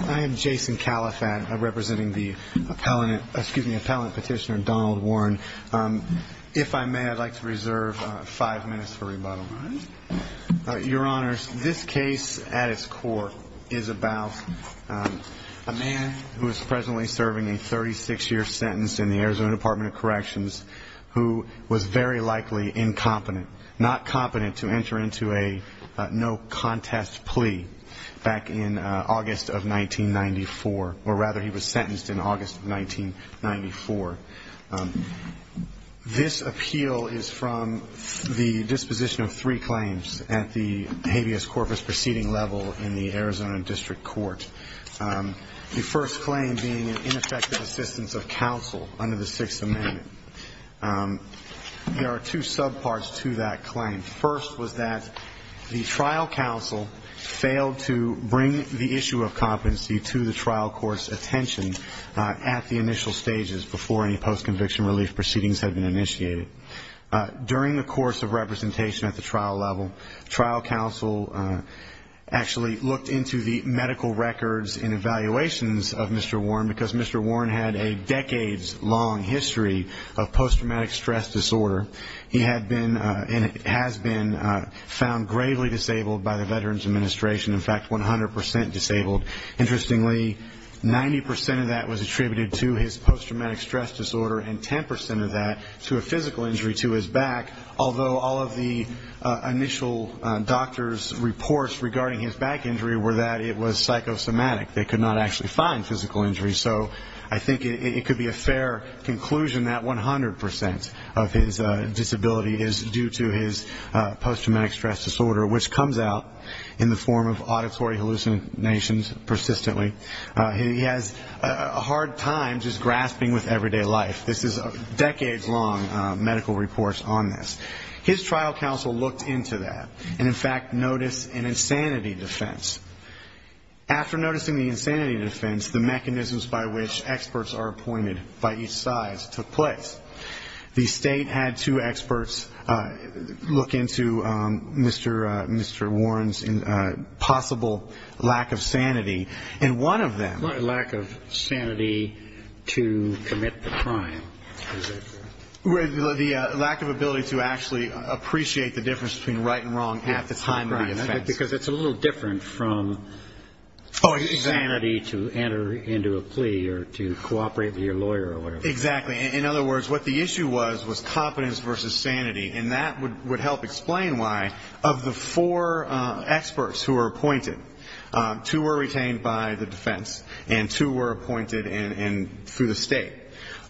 I am Jason Caliphate, representing the appellant petitioner Donald Warren. If I may, I'd like to reserve five minutes for rebuttal. Your Honors, this case at its core is about a man who is presently serving a 36-year sentence in the Arizona Department of Corrections who was very likely incompetent, not competent to enter into a no-contest plea back in August of 1994, or rather he was sentenced in August of 1994. This appeal is from the disposition of three claims at the habeas corpus proceeding level in the Arizona District Court, the first claim being an ineffective assistance of counsel under the Sixth Amendment. There are two subparts to that claim. First was that the trial counsel failed to bring the issue of competency to the trial court's attention at the initial stages before any post-conviction relief proceedings had been initiated. During the course of representation at the trial level, trial counsel actually looked into the medical records and evaluations of Mr. Warren, because Mr. Warren had a decades-long history of post-traumatic stress disorder. He had been and has been found gravely disabled by the Veterans Administration, in fact, 100% disabled. Interestingly, 90% of that was attributed to his post-traumatic stress disorder and 10% of that to a physical injury to his back, although all of the initial doctors' reports regarding his back injury were that it was psychosomatic. They could not actually find physical injury. So I think it could be a fair conclusion that 100% of his disability is due to his post-traumatic stress disorder, which comes out in the form of auditory hallucinations persistently. He has a hard time just grasping with everyday life. This is decades-long medical reports on this. His trial counsel looked into that and, in fact, noticed an insanity defense. After noticing the insanity defense, the mechanisms by which experts are appointed by each side took place. The State had two experts look into Mr. Warren's possible lack of sanity, and one of them --. Lack of sanity to commit the crime. The lack of ability to actually appreciate the difference between right and wrong at the time of the offense. Because it's a little different from sanity to enter into a plea or to cooperate with your lawyer or whatever. Exactly. In other words, what the issue was was competence versus sanity. And that would help explain why, of the four experts who were appointed, two were retained by the defense, and two were appointed through the State.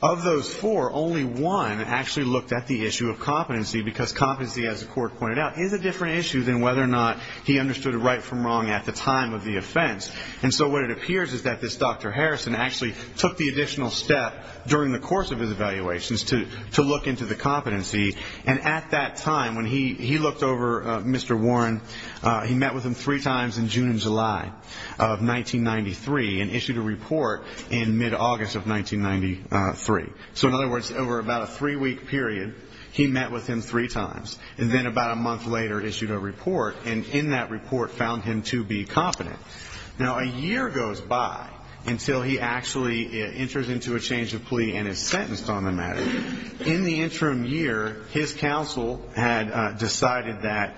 Of those four, only one actually looked at the issue of competency, because competency, as the court pointed out, is a different issue than whether or not he understood right from wrong at the time of the offense. And so what it appears is that this Dr. Harrison actually took the additional step during the course of his evaluations to look into the competency. And at that time, when he looked over Mr. Warren, he met with him three times in June and July of 1993 and issued a report in mid-August of 1993. So in other words, over about a three-week period, he met with him three times, and then about a month later issued a report, and in that report found him to be competent. Now, a year goes by until he actually enters into a change of plea and is sentenced on the matter. In the interim year, his counsel had decided that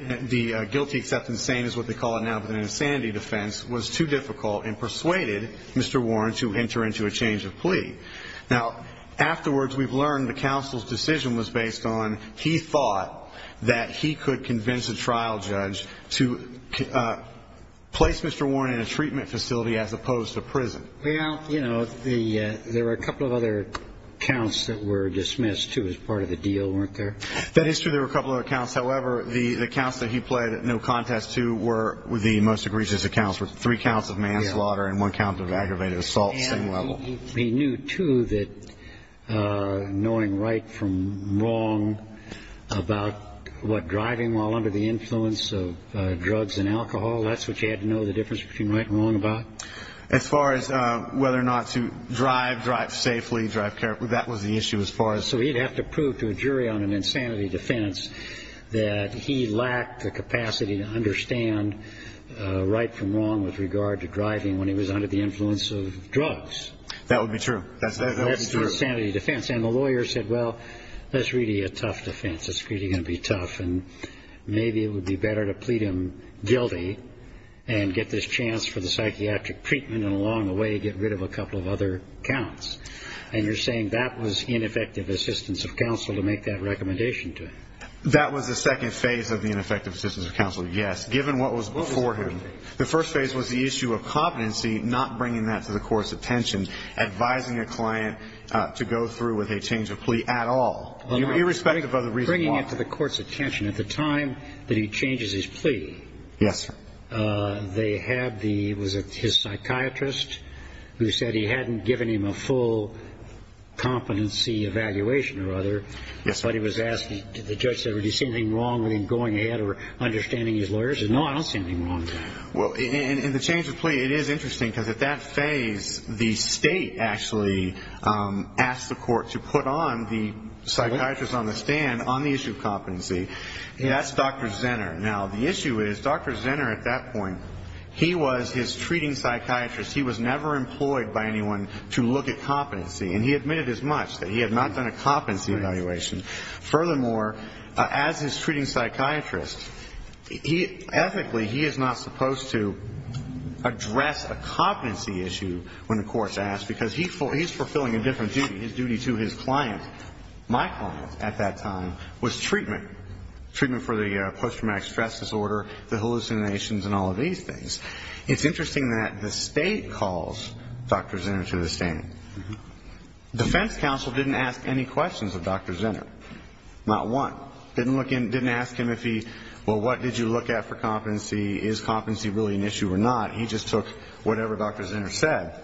the guilty except insane is what they call it now, but an insanity defense, was too difficult and persuaded Mr. Warren to enter into a change of plea. Now, afterwards, we've learned the counsel's decision was based on he thought that he could convince a trial judge to place Mr. Warren in a treatment facility as opposed to prison. Well, you know, there were a couple of other counts that were dismissed, too, as part of the deal, weren't there? That is true. There were a couple of other counts. However, the counts that he pled no contest to were the most egregious accounts, were three counts of manslaughter and one count of aggravated assault at the same level. He knew, too, that knowing right from wrong about what driving while under the influence of drugs and alcohol, that's what you had to know the difference between right and wrong about? As far as whether or not to drive, drive safely, drive carefully, that was the issue as far as. So he'd have to prove to a jury on an insanity defense that he lacked the capacity to understand right from wrong with regard to driving when he was under the influence of drugs. That would be true. That's true. That's an insanity defense. And the lawyer said, well, that's really a tough defense. It's really going to be tough. And maybe it would be better to plead him guilty and get this chance for the psychiatric treatment and along the way get rid of a couple of other counts. And you're saying that was ineffective assistance of counsel to make that recommendation to him? That was the second phase of the ineffective assistance of counsel, yes, given what was before him. The first phase was the issue of competency, not bringing that to the court's attention, advising a client to go through with a change of plea at all, irrespective of the reason why. Bringing it to the court's attention at the time that he changes his plea. Yes, sir. They had the, was it his psychiatrist, who said he hadn't given him a full competency evaluation or other. Yes, sir. But he was asked, the judge said, did he see anything wrong with him going ahead or understanding his lawyers? He said, no, I don't see anything wrong with that. Well, in the change of plea, it is interesting because at that phase, the state actually asked the court to put on the psychiatrist on the stand on the issue of competency. That's Dr. Zenner. Now, the issue is Dr. Zenner at that point, he was his treating psychiatrist. He was never employed by anyone to look at competency. And he admitted as much, that he had not done a competency evaluation. Furthermore, as his treating psychiatrist, ethically, he is not supposed to address a competency issue when the court's asked, because he's fulfilling a different duty. His duty to his client, my client at that time, was treatment. Treatment for the post-traumatic stress disorder, the hallucinations, and all of these things. It's interesting that the state calls Dr. Zenner to the stand. Defense counsel didn't ask any questions of Dr. Zenner. Not one. Didn't ask him if he, well, what did you look at for competency? Is competency really an issue or not? He just took whatever Dr. Zenner said.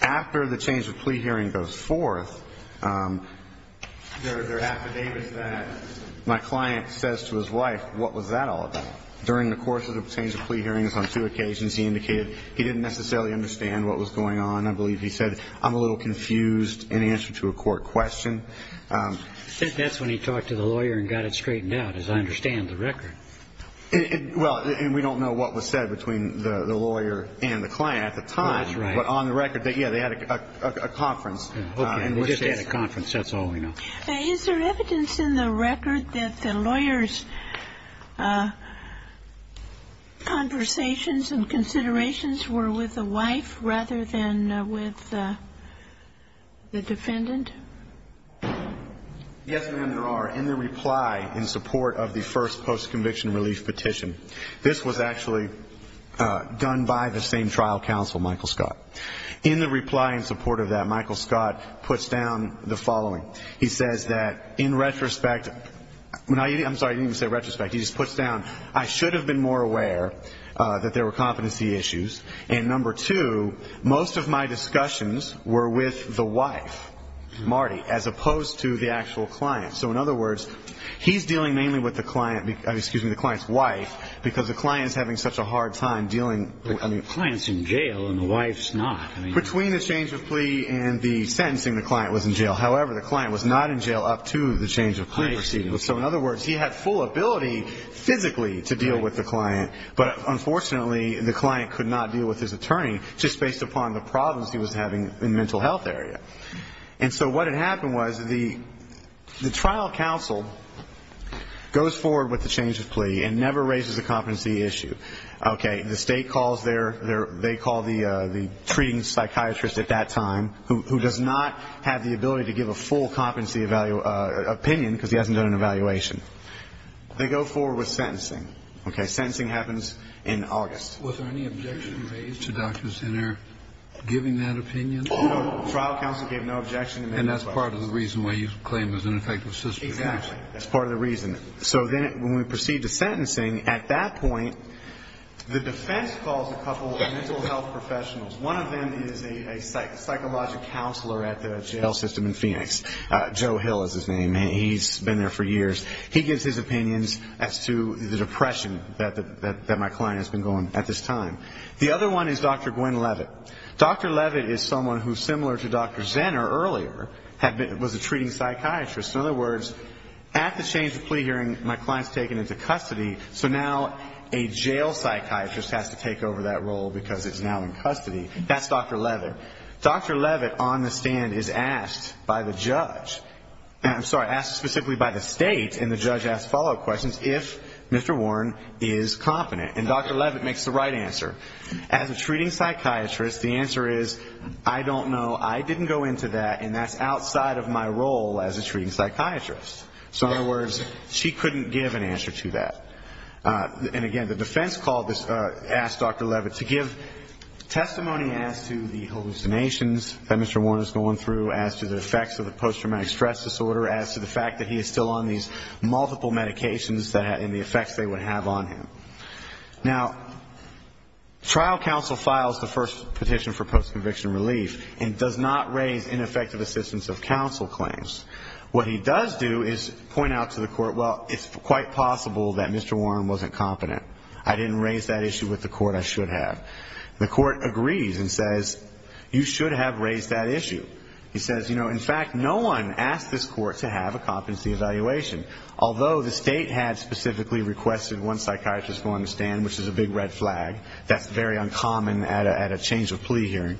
After the change of plea hearing goes forth, there are affidavits that my client says to his wife, what was that all about? During the course of the change of plea hearings on two occasions, he indicated he didn't necessarily understand what was going on. I believe he said, I'm a little confused in answer to a court question. That's when he talked to the lawyer and got it straightened out, as I understand the record. Well, and we don't know what was said between the lawyer and the client at the time. That's right. But on the record, yeah, they had a conference. Okay. They just had a conference. That's all we know. Is there evidence in the record that the lawyer's conversations and considerations were with the wife rather than with the defendant? Yes, ma'am, there are. In the reply in support of the first post-conviction relief petition, this was actually done by the same trial counsel, Michael Scott. In the reply in support of that, Michael Scott puts down the following. He says that in retrospect, I'm sorry, I didn't even say retrospect. He just puts down, I should have been more aware that there were competency issues. And number two, most of my discussions were with the wife, Marty, as opposed to the actual client. So, in other words, he's dealing mainly with the client's wife because the client is having such a hard time dealing. The client's in jail and the wife's not. Between the change of plea and the sentencing, the client was in jail. However, the client was not in jail up to the change of plea proceedings. So, in other words, he had full ability physically to deal with the client, but unfortunately the client could not deal with his attorney just based upon the problems he was having in the mental health area. And so what had happened was the trial counsel goes forward with the change of plea and never raises a competency issue. Okay, the state calls their, they call the treating psychiatrist at that time, who does not have the ability to give a full competency opinion because he hasn't done an evaluation. They go forward with sentencing. Okay, sentencing happens in August. Was there any objection raised to doctors in there giving that opinion? No, no. Trial counsel gave no objection. And that's part of the reason why you claim there's an ineffective system. Exactly. That's part of the reason. So then when we proceed to sentencing, at that point, the defense calls a couple of mental health professionals. One of them is a psychological counselor at the jail system in Phoenix. Joe Hill is his name. He's been there for years. He gives his opinions as to the depression that my client has been going at this time. The other one is Dr. Gwen Levitt. Dr. Levitt is someone who, similar to Dr. Zenner earlier, was a treating psychiatrist. In other words, at the change of plea hearing, my client's taken into custody, so now a jail psychiatrist has to take over that role because it's now in custody. That's Dr. Levitt. Dr. Levitt, on the stand, is asked by the judge, I'm sorry, asked specifically by the state, and the judge asks follow-up questions, if Mr. Warren is competent. And Dr. Levitt makes the right answer. As a treating psychiatrist, the answer is, I don't know, I didn't go into that, and that's outside of my role as a treating psychiatrist. So, in other words, she couldn't give an answer to that. And, again, the defense called this, asked Dr. Levitt to give testimony as to the hallucinations that Mr. Warren is going through, as to the effects of the post-traumatic stress disorder, as to the fact that he is still on these multiple medications and the effects they would have on him. Now, trial counsel files the first petition for post-conviction relief and does not raise ineffective assistance of counsel claims. What he does do is point out to the court, well, it's quite possible that Mr. Warren wasn't competent. I didn't raise that issue with the court, I should have. The court agrees and says, you should have raised that issue. He says, you know, in fact, no one asked this court to have a competency evaluation. Although the state had specifically requested one psychiatrist go on the stand, which is a big red flag, that's very uncommon at a change of plea hearing.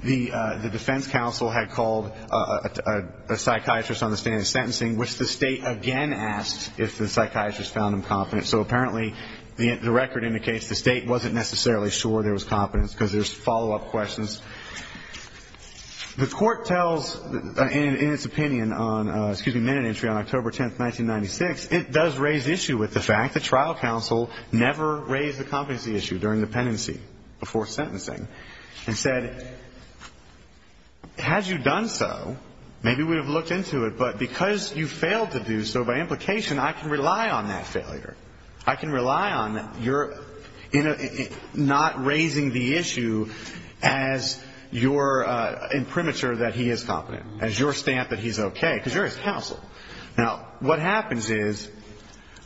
The defense counsel had called a psychiatrist on the stand in sentencing, which the state again asked if the psychiatrist found him competent. So, apparently, the record indicates the state wasn't necessarily sure there was competence, because there's follow-up questions. The court tells, in its opinion on, excuse me, minute entry on October 10th, 1996, it does raise issue with the fact that trial counsel never raised the competency issue during dependency, before sentencing, and said, had you done so, maybe we would have looked into it, but because you failed to do so, by implication, I can rely on that failure. I can rely on your not raising the issue as your imprimatur that he is competent, as your stamp that he's okay, because you're his counsel. Now, what happens is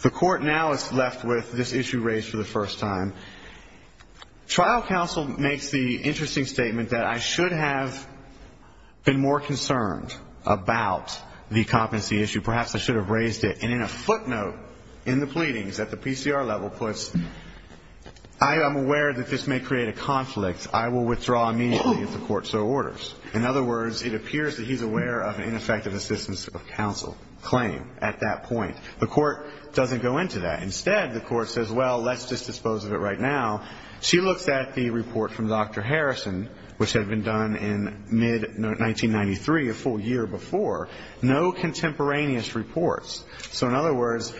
the court now is left with this issue raised for the first time. Trial counsel makes the interesting statement that I should have been more concerned about the competency issue. Perhaps I should have raised it. And in a footnote in the pleadings that the PCR level puts, I am aware that this may create a conflict. I will withdraw immediately if the court so orders. In other words, it appears that he's aware of an ineffective assistance of counsel claim at that point. The court doesn't go into that. Instead, the court says, well, let's just dispose of it right now. She looks at the report from Dr. Harrison, which had been done in mid-1993, a full year before. No contemporaneous reports. So in other words,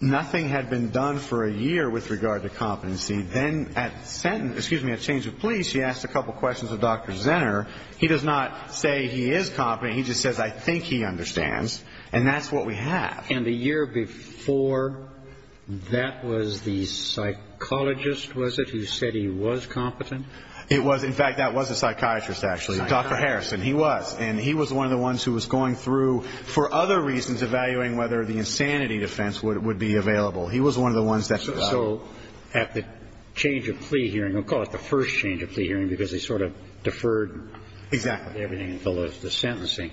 nothing had been done for a year with regard to competency. Then at sentence, excuse me, at change of plea, she asked a couple questions of Dr. Zenner. He does not say he is competent. He just says, I think he understands. And that's what we have. And the year before, that was the psychologist, was it, who said he was competent? It was. In fact, that was a psychiatrist, actually. Dr. Harrison. He was. And he was one of the ones who was going through, for other reasons, evaluating whether the insanity defense would be available. He was one of the ones that said that. So at the change of plea hearing, we'll call it the first change of plea hearing because they sort of deferred everything until the sentencing.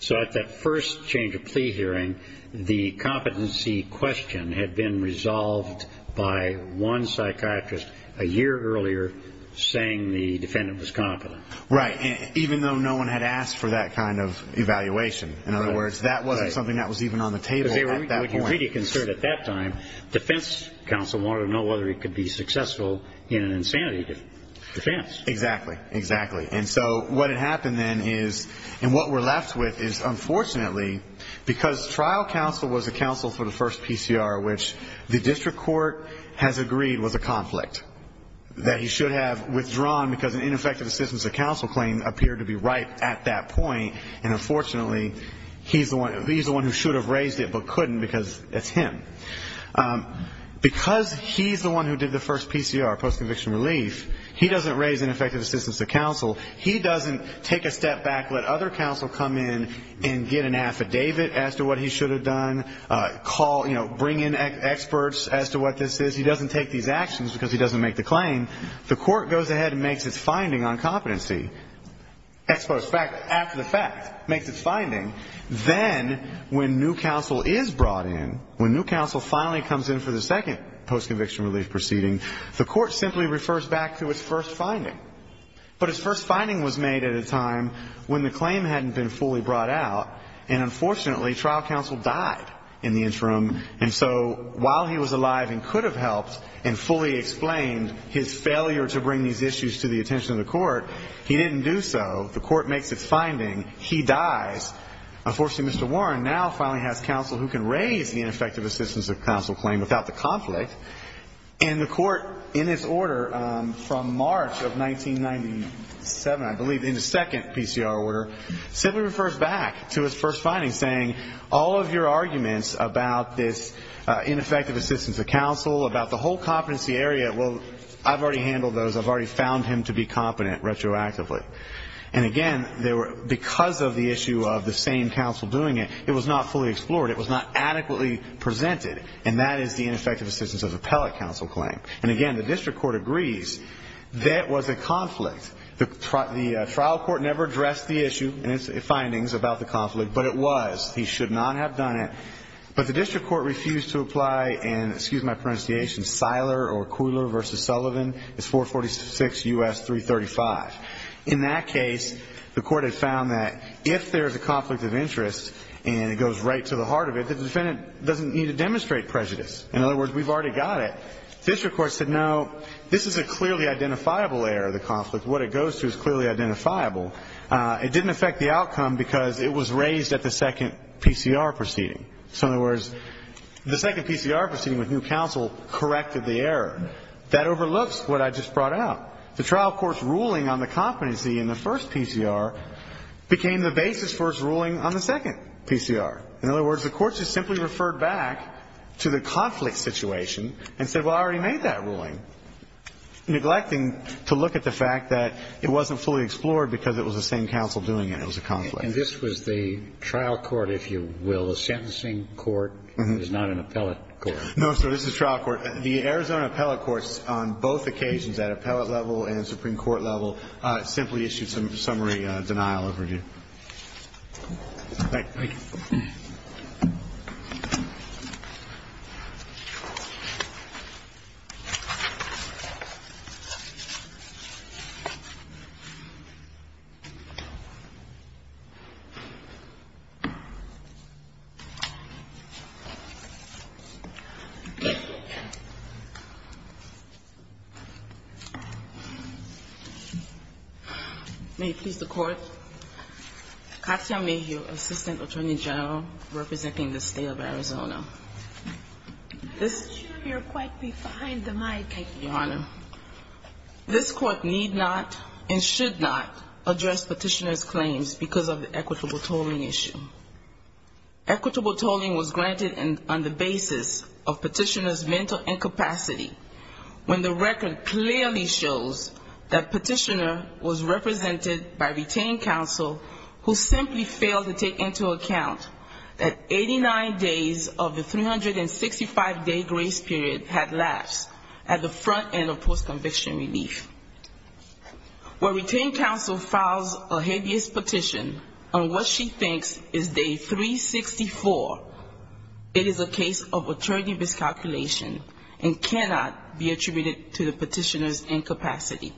So at that first change of plea hearing, the competency question had been resolved by one psychiatrist a year earlier saying the defendant was competent. Right, even though no one had asked for that kind of evaluation. In other words, that wasn't something that was even on the table at that point. That's what you really considered at that time. Defense counsel wanted to know whether he could be successful in an insanity defense. Exactly, exactly. And so what had happened then is, and what we're left with is, unfortunately, because trial counsel was the counsel for the first PCR, which the district court has agreed was a conflict, that he should have withdrawn because an ineffective assistance of counsel claim appeared to be right at that point. And unfortunately, he's the one who should have raised it but couldn't because it's him. Because he's the one who did the first PCR, post-conviction relief, he doesn't raise ineffective assistance of counsel. He doesn't take a step back, let other counsel come in and get an affidavit as to what he should have done, call, you know, bring in experts as to what this is. He doesn't take these actions because he doesn't make the claim. The court goes ahead and makes its finding on competency. Ex post fact, after the fact, makes its finding. Then when new counsel is brought in, when new counsel finally comes in for the second post-conviction relief proceeding, the court simply refers back to its first finding. But its first finding was made at a time when the claim hadn't been fully brought out, and unfortunately, trial counsel died in the interim. And so while he was alive and could have helped and fully explained his failure to bring these issues to the attention of the court, he didn't do so. The court makes its finding. He dies. Unfortunately, Mr. Warren now finally has counsel who can raise the ineffective assistance of counsel claim without the conflict. And the court in its order from March of 1997, I believe, in the second PCR order, simply refers back to its first finding, saying, all of your arguments about this ineffective assistance of counsel, about the whole competency area, well, I've already handled those. I've already found him to be competent retroactively. And again, because of the issue of the same counsel doing it, it was not fully explored. It was not adequately presented, and that is the ineffective assistance of appellate counsel claim. And again, the district court agrees that was a conflict. The trial court never addressed the issue and its findings about the conflict, but it was. He should not have done it. But the district court refused to apply and, excuse my pronunciation, Siler or Cooler v. Sullivan. It's 446 U.S. 335. In that case, the court had found that if there is a conflict of interest and it goes right to the heart of it, the defendant doesn't need to demonstrate prejudice. In other words, we've already got it. The district court said, no, this is a clearly identifiable area of the conflict. What it goes to is clearly identifiable. It didn't affect the outcome because it was raised at the second PCR proceeding. So, in other words, the second PCR proceeding with new counsel corrected the error. That overlooks what I just brought up. The trial court's ruling on the competency in the first PCR became the basis for its ruling on the second PCR. In other words, the court just simply referred back to the conflict situation and said, well, I already made that ruling, neglecting to look at the fact that it wasn't fully explored because it was the same counsel doing it. It was a conflict. And this was the trial court, if you will, a sentencing court. It was not an appellate court. No, sir. This is trial court. The Arizona appellate courts on both occasions, at appellate level and supreme court level, simply issued some summary denial of review. Thank you. Thank you. May it please the Court, Katya Mayhew, Assistant Attorney General, representing the State of Arizona. I'm not sure you're quite behind the mic. Thank you, Your Honor. This Court need not and should not address petitioner's claims because of error. Equitable tolling was granted on the basis of petitioner's mental incapacity, when the record clearly shows that petitioner was represented by retained counsel who simply failed to take into account that 89 days of the 365-day grace period had lapsed at the front end of post-conviction relief. Where retained counsel files a habeas petition on what she thinks is day 364, it is a case of attorney miscalculation and cannot be attributed to the petitioner's incapacity.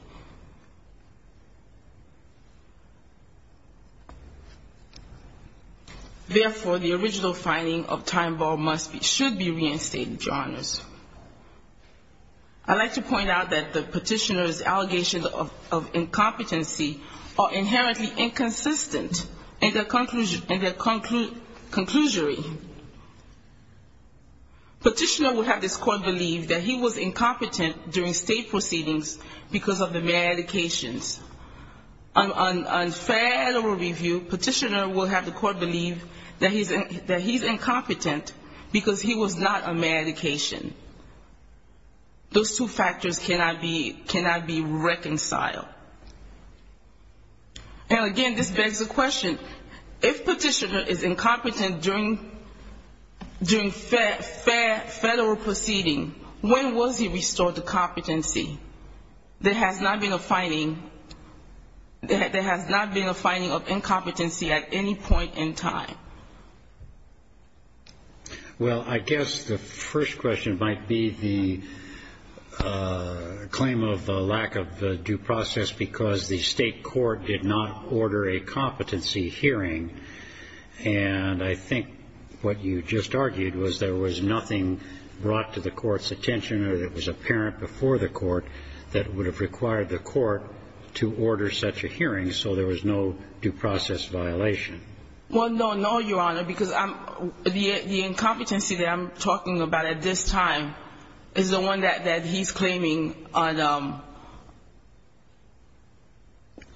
Therefore, the original finding of time ball must be, should be reinstated, Your Honors. I'd like to point out that the petitioner's allegations of incompetency are inherently inconsistent in their conclusory. Petitioner will have this court believe that he was incompetent during state proceedings because of the medications. On federal review, petitioner will have the court believe that he's incompetent because he was not on medications. Those two factors cannot be reconciled. And again, this begs the question, if petitioner is incompetent during federal proceeding, when was he restored to competency? There has not been a finding of incompetency at any point in time. Well, I guess the first question might be the claim of lack of due process because the state court did not order a competency hearing, and I think what you just argued was there was nothing brought to the court's attention or that was apparent before the court that would have required the court to order such a hearing, so there was no due process violation. Well, no, no, Your Honor, because the incompetency that I'm talking about at this time is the one that he's claiming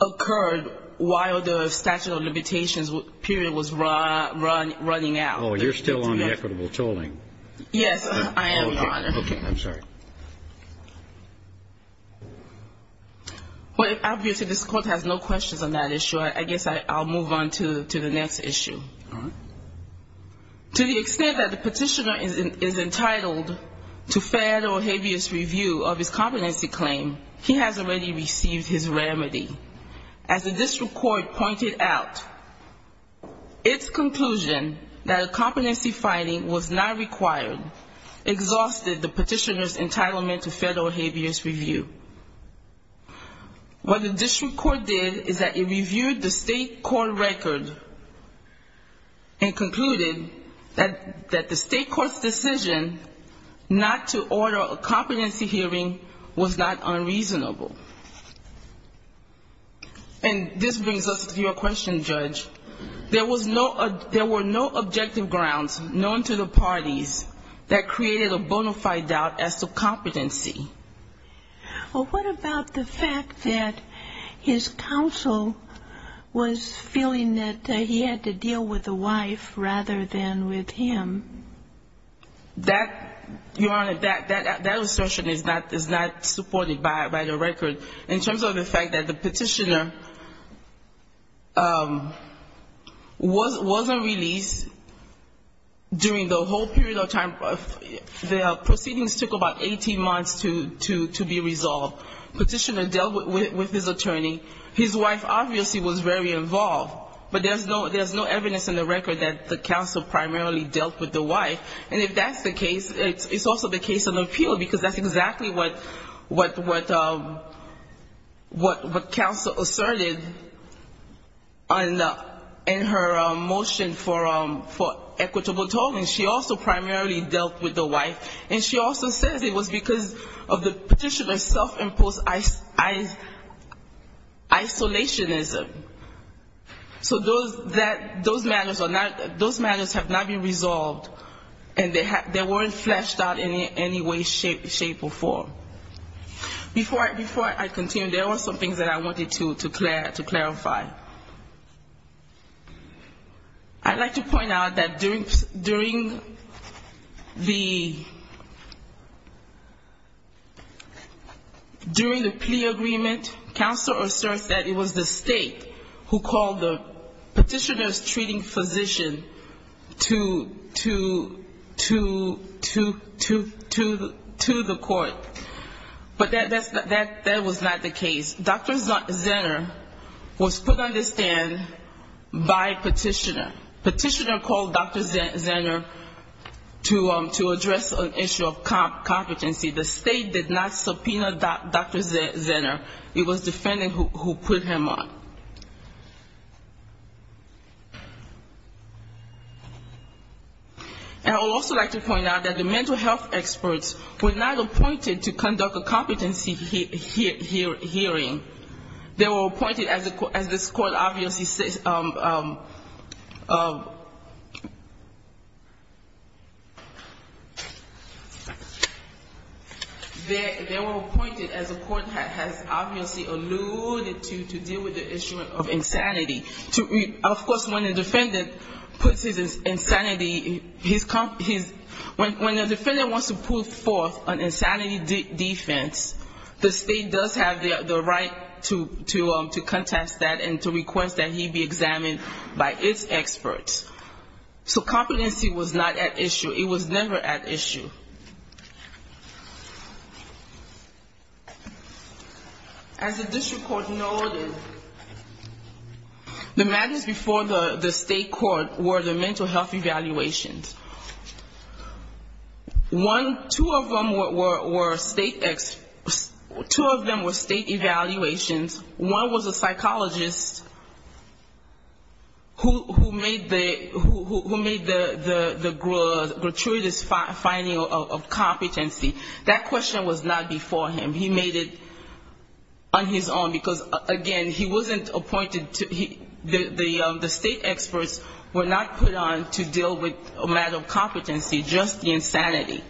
occurred while the statute of limitations period was running out. Oh, you're still on the equitable tolling. Yes, I am, Your Honor. Okay, I'm sorry. Well, obviously this court has no questions on that issue. I guess I'll move on to the next issue. To the extent that the petitioner is entitled to fair or habeas review of his competency claim, he has already received his remedy. As the district court pointed out, its conclusion that a competency finding was not required exhausted the petitioner's entitlement to fair or habeas review. What the district court did is that it reviewed the state court record and concluded that the state court's decision not to order a competency hearing was not unreasonable. And this brings us to your question, Judge. There were no objective grounds known to the parties that the state court had created a bona fide doubt as to competency. Well, what about the fact that his counsel was feeling that he had to deal with the wife rather than with him? That, Your Honor, that assertion is not supported by the record. In terms of the fact that the petitioner wasn't released during the whole period of time, the proceedings took about 18 months to be resolved. Petitioner dealt with his attorney. His wife obviously was very involved, but there's no evidence in the record that the counsel primarily dealt with the wife. And if that's the case, it's also the case of appeal, because that's exactly what counsel asserted in her motion for a equitable tolling. She also primarily dealt with the wife. And she also says it was because of the petitioner's self-imposed isolationism. So those matters have not been resolved, and they weren't fleshed out in any way, shape or form. Before I continue, there are some things that I wanted to clarify. I'd like to point out that the state court did not issue a plea agreement. I want to point out that during the plea agreement, counsel asserts that it was the state who called the petitioner's treating physician to the court. But that was not the case. Dr. Zenner was put on this stand by petitioner. Petitioner called Dr. Zenner to address an issue of competency. The state did not subpoena Dr. Zenner. It was defendant who put him on. And I would also like to point out that the mental health experts were not appointed to conduct a competency hearing. They were appointed, as the court has obviously alluded to, to deal with the issue of insanity. Of course, when a defendant puts his insanity, when a defendant wants to put forth an insanity defense, the state does have the right to contest that and to request that he be dismissed. So competency was not at issue. It was never at issue. As the district court noted, the matters before the state court were the mental health evaluations. One, two of them were state evaluations. One was a psychologist who made the mental health evaluation. The other was a psychologist who made the mental health evaluation. And the third was a psychologist who made the gratuitous finding of competency. That question was not before him. He made it on his own, because, again, he wasn't appointed to the state experts were not put on to deal with a matter of competency, just the insanity.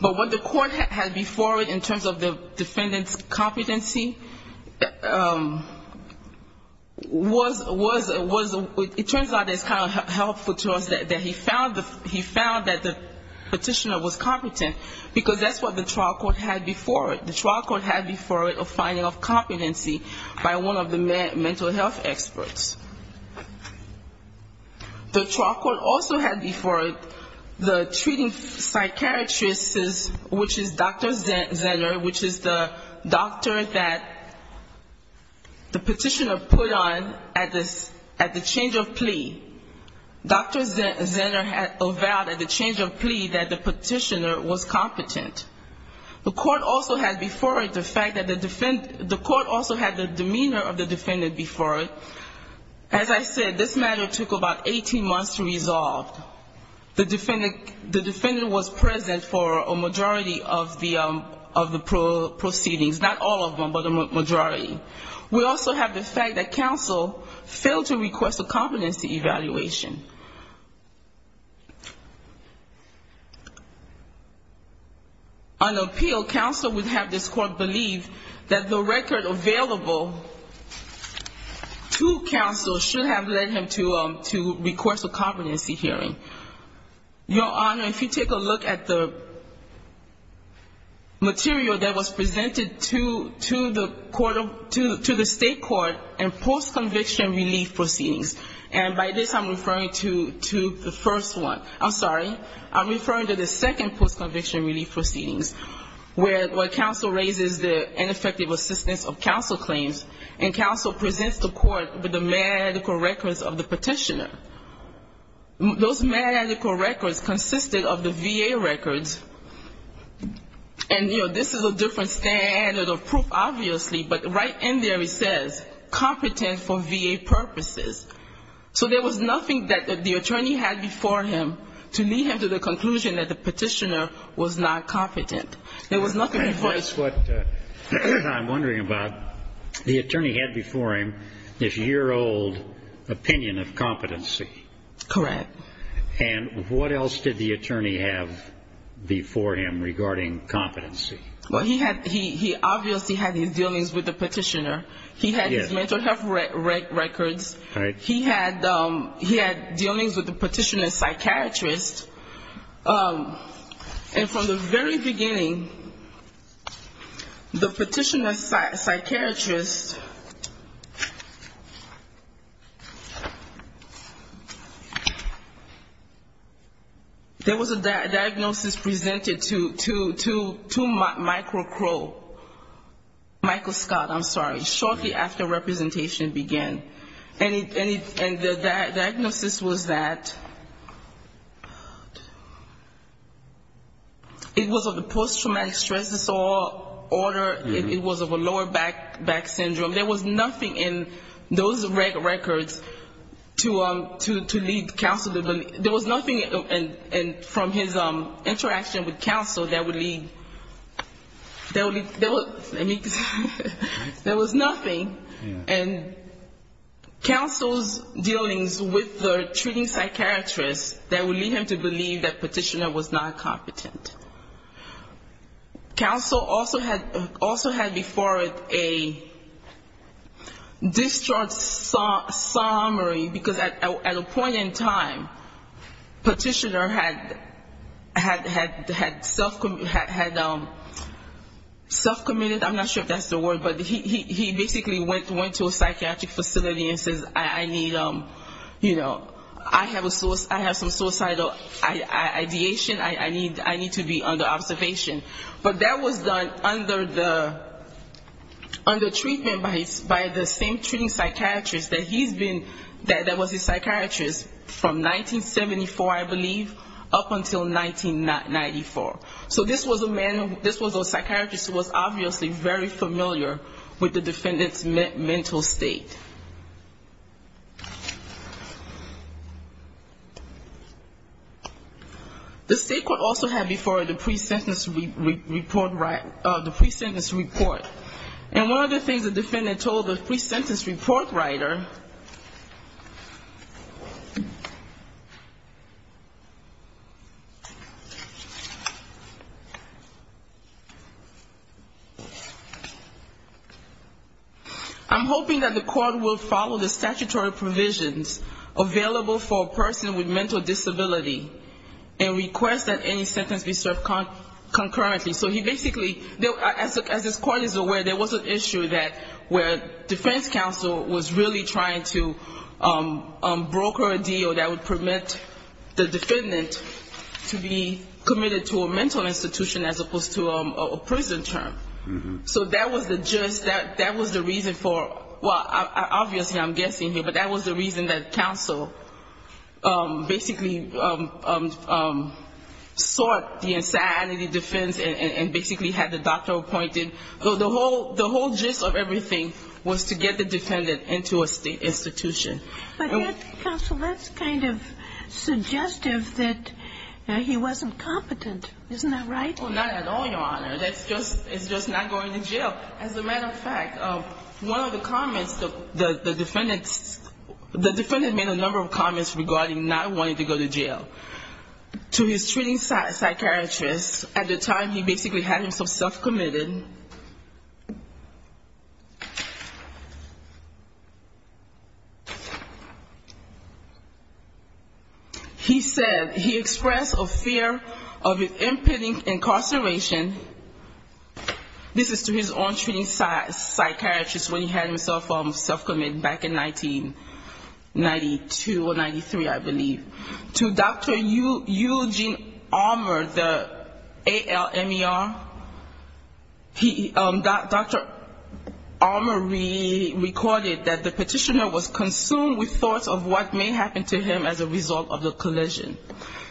But what the court had before it in terms of the defendant's competency was the fact that Dr. Zenner was not put on the petitioner. And it turns out it's kind of helpful to us that he found that the petitioner was competent, because that's what the trial court had before it. The trial court had before it a finding of competency by one of the mental health experts. The trial court also had before it the treating psychiatrist, which is Dr. Zenner, which is the doctor that the petitioner put on at the change of plea. Dr. Zenner had avowed at the change of plea that the petitioner was competent. The court also had before it the fact that the defendant, the court also had the demeanor of the defendant before it. As I said, this matter took about 18 months to resolve. The defendant was present for a majority of the proceedings, not all of them, but a majority. We also have the fact that counsel failed to request a competency evaluation. On appeal, counsel would have this court believe that the record available to counsel should have led him to request a competency hearing. Your Honor, if you take a look at the material that was presented to the state court in post-conviction relief proceedings, and by this I'm referring to the first one. I'm sorry. I'm referring to the second post-conviction relief proceedings, where counsel raises the ineffective assistance of counsel claims, and counsel presents the court with the medical records of the petitioner. Those medical records consisted of the VA records, and, you know, this is a different standard of proof, obviously, but right in there it says, competent for VA purposes. So there was nothing that the attorney had before him to lead him to the conclusion that the petitioner was not competent. There was nothing before him. That's what I'm wondering about. The attorney had before him this year-old opinion of competency. Correct. And what else did the attorney have before him regarding competency? Well, he obviously had his dealings with the petitioner. He had his mental health records. He had dealings with the petitioner's psychiatrist. And from the very beginning, the petitioner's psychiatrist, the petitioner's psychiatrist, the petitioner's psychiatrist, there was a diagnosis presented to Michael Crow, Michael Scott, I'm sorry, shortly after representation began. And the diagnosis was that it was of the post-traumatic stress disorder, it was of a lower back syndrome. There was nothing in those records to lead counsel to believe. There was nothing from his interaction with counsel that would lead, I mean, there was nothing. And counsel's dealings with the treating psychiatrist, that would lead him to believe that petitioner was not competent. Counsel also had before it a distraught state of mind, a distraught state of mind, a distraught state of mind. In summary, because at a point in time, petitioner had self-committed, I'm not sure if that's the word, but he basically went to a psychiatric facility and says, I need, you know, I have some suicidal ideation, I need to be under observation. But that was done under treatment by the same treating psychiatrist that he's been, that was his psychiatrist from 1974, I believe, up until 1994. So this was a man, this was a psychiatrist who was obviously very familiar with the defendant's mental state. The state court also had before it a pre-sentence report, the pre-sentence report. And one of the things the defendant told the pre-sentence report writer, I'm hoping that the court will be able to find a way to make this a little bit easier to understand. He said, the court will follow the statutory provisions available for a person with mental disability and request that any sentence be served concurrently. So he basically, as this court is aware, there was an issue that, where defense counsel was really trying to broker a deal that would permit the defendant to be committed to a mental institution as opposed to a prison term. So that was the reason for, well, obviously I'm guessing here, but that was the reason that counsel basically sought the insanity defense and basically had the doctor appointed. So the whole gist of everything was to get the defendant into a state institution. But counsel, that's kind of suggestive that he wasn't competent. Isn't that right? Well, not at all, Your Honor. That's just, it's just not going to jail. As a matter of fact, one of the comments the defendant, the defendant made a number of comments regarding not wanting to go to jail. To his treating psychiatrist, at the time he basically had himself self-committed, he said, he expressed a fear of an impending incarceration. He said, he expressed a fear of an impending incarceration. This is to his own treating psychiatrist when he had himself self-committed back in 1992 or 93, I believe. To Dr. Eugene Armour, the ALMER, Dr. Armour recorded that the petitioner was consumed with thoughts of what may happen to him as a result of the collision.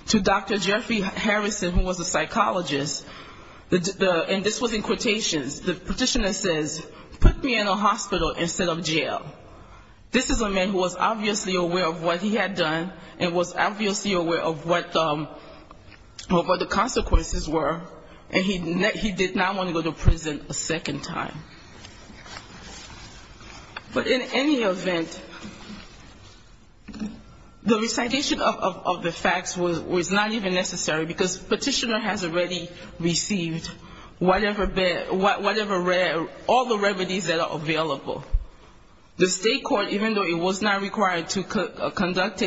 To Dr. Jeffrey Harrison, who was a psychologist, and this was in quotations, the petitioner says, put me in a hospital instead of jail. This is a man who was obviously aware of what he had done and was obviously aware of what the consequences were, and he did not want to go to prison a second time. But in any event, the recitation of the facts was not even necessary. The fact of the fact was that the defendant had been convicted, and it was not even necessary because petitioner has already received whatever, all the remedies that are available. The state court, even though it was not required to conduct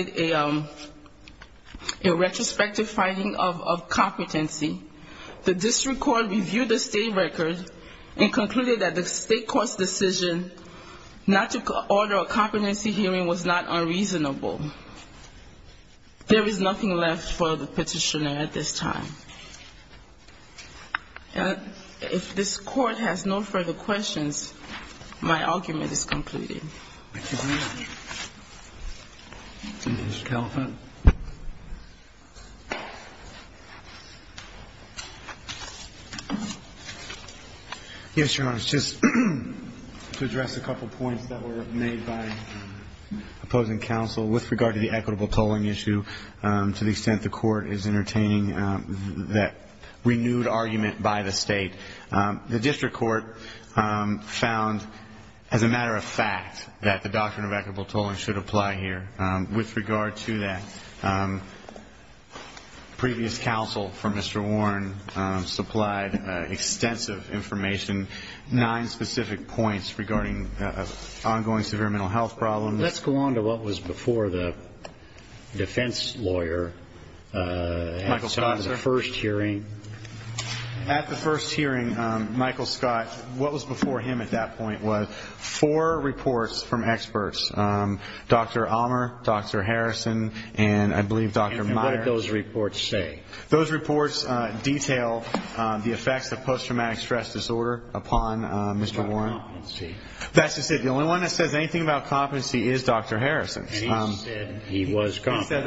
a retrospective finding of competency, the district court reviewed the state record and concluded that the state court's decision not to order a competency hearing was not unreasonable. There is nothing left for the petitioner at this time. And if this Court has no further questions, my argument is completed. Mr. Kellefer. Yes, Your Honor. Just to address a couple points that were made by opposing counsel with regard to the equitable tolling issue to the extent the Court is entertaining that renewed argument by the state, the district court found as a matter of fact that the doctrine of equitable tolling should apply here. With regard to that, previous counsel from Mr. Warren supplied extensive information, nine specific points regarding ongoing severe mental health problems. Let's go on to what was before the defense lawyer at the first hearing. At the first hearing, Michael Scott, what was before him at that point was four reports from experts, Dr. Allmer, Dr. Harrison, and I believe Dr. Meyer. And what did those reports say? Those reports detail the effects of post-traumatic stress disorder upon Mr. Warren. That's to say, the only one that says anything about competency is Dr. Harrison's. And he said he was competent.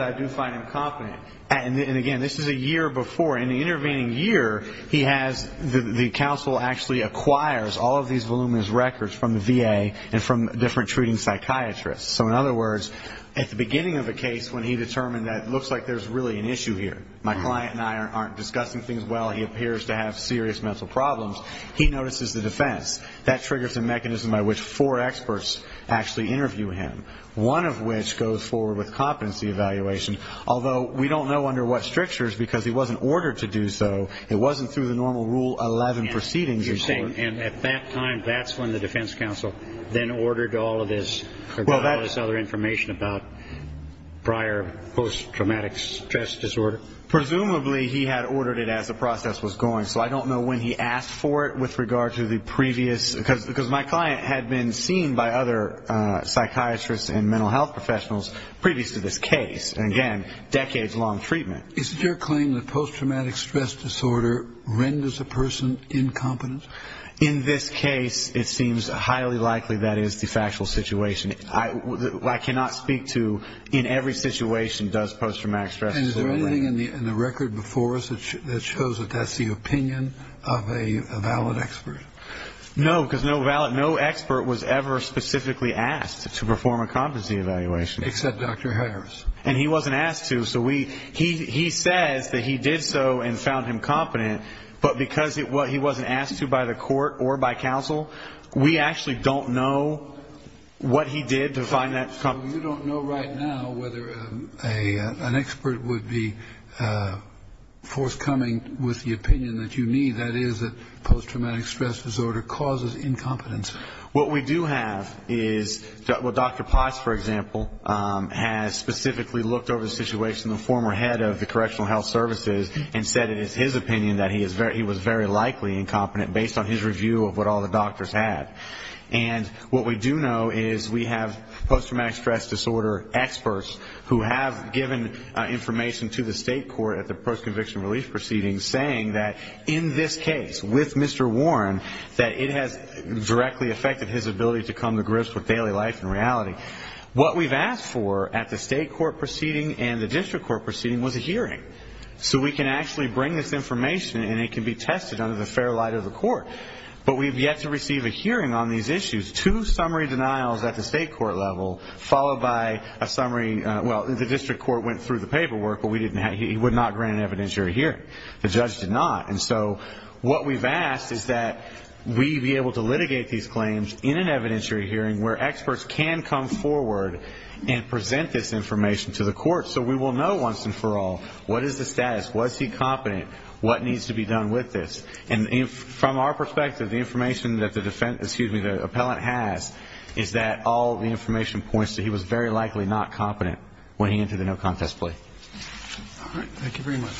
And again, this is a year before. In the intervening year, he has, the counsel actually acquires all of these voluminous records from the VA and from different treating psychiatrists. So in other words, at the beginning of the case when he determined that it looks like there's really an issue here, my client and I aren't discussing things well, he appears to have serious mental problems, he notices the defense. That triggers a mechanism by which four experts actually interview him, one of which goes forward with competency evaluation. Although we don't know under what strictures, because he wasn't ordered to do so, it wasn't through the normal Rule 11 proceedings. And at that time, that's when the defense counsel then ordered all of this other information about prior post-traumatic stress disorder Presumably, he had ordered it as the process was going. So I don't know when he asked for it with regard to the previous, because my client had been seen by other psychiatrists and mental health professionals previous to this case. And again, decades-long treatment. Is it your claim that post-traumatic stress disorder renders a person incompetent? In this case, it seems highly likely that is the factual situation. I cannot speak to in every situation does post-traumatic stress disorder Is there anything in the record before us that shows that that's the opinion of a valid expert? No, because no expert was ever specifically asked to perform a competency evaluation. Except Dr. Harris. And he wasn't asked to, so he says that he did so and found him competent, but because he wasn't asked to by the court or by counsel, we actually don't know what he did to find that. Is there anything forthcoming with the opinion that you need, that is, that post-traumatic stress disorder causes incompetence? What we do have is, well, Dr. Potts, for example, has specifically looked over the situation, the former head of the Correctional Health Services, and said it is his opinion that he was very likely incompetent, based on his review of what all the doctors had. And what we do know is we have post-traumatic stress disorder experts who have given information to the state, and we've asked them to review it. And we've asked them to review it in the state court at the post-conviction relief proceedings, saying that in this case, with Mr. Warren, that it has directly affected his ability to come to grips with daily life and reality. What we've asked for at the state court proceeding and the district court proceeding was a hearing, so we can actually bring this information and it can be tested under the fair light of the court. But we've yet to receive a hearing on these issues. Two summary denials at the state court level, followed by a summary, well, the district court went through the paperwork, but we didn't have, he would not grant an evidentiary hearing. The judge did not. And so what we've asked is that we be able to litigate these claims in an evidentiary hearing where experts can come forward and present this information to the court, so we will know once and for all what is the status, was he competent, what needs to be done with this. And from our perspective, the information that the defendant, excuse me, the appellant has, is that all the information points to he was very likely not competent when he entered the no-contest plea. All right, thank you very much.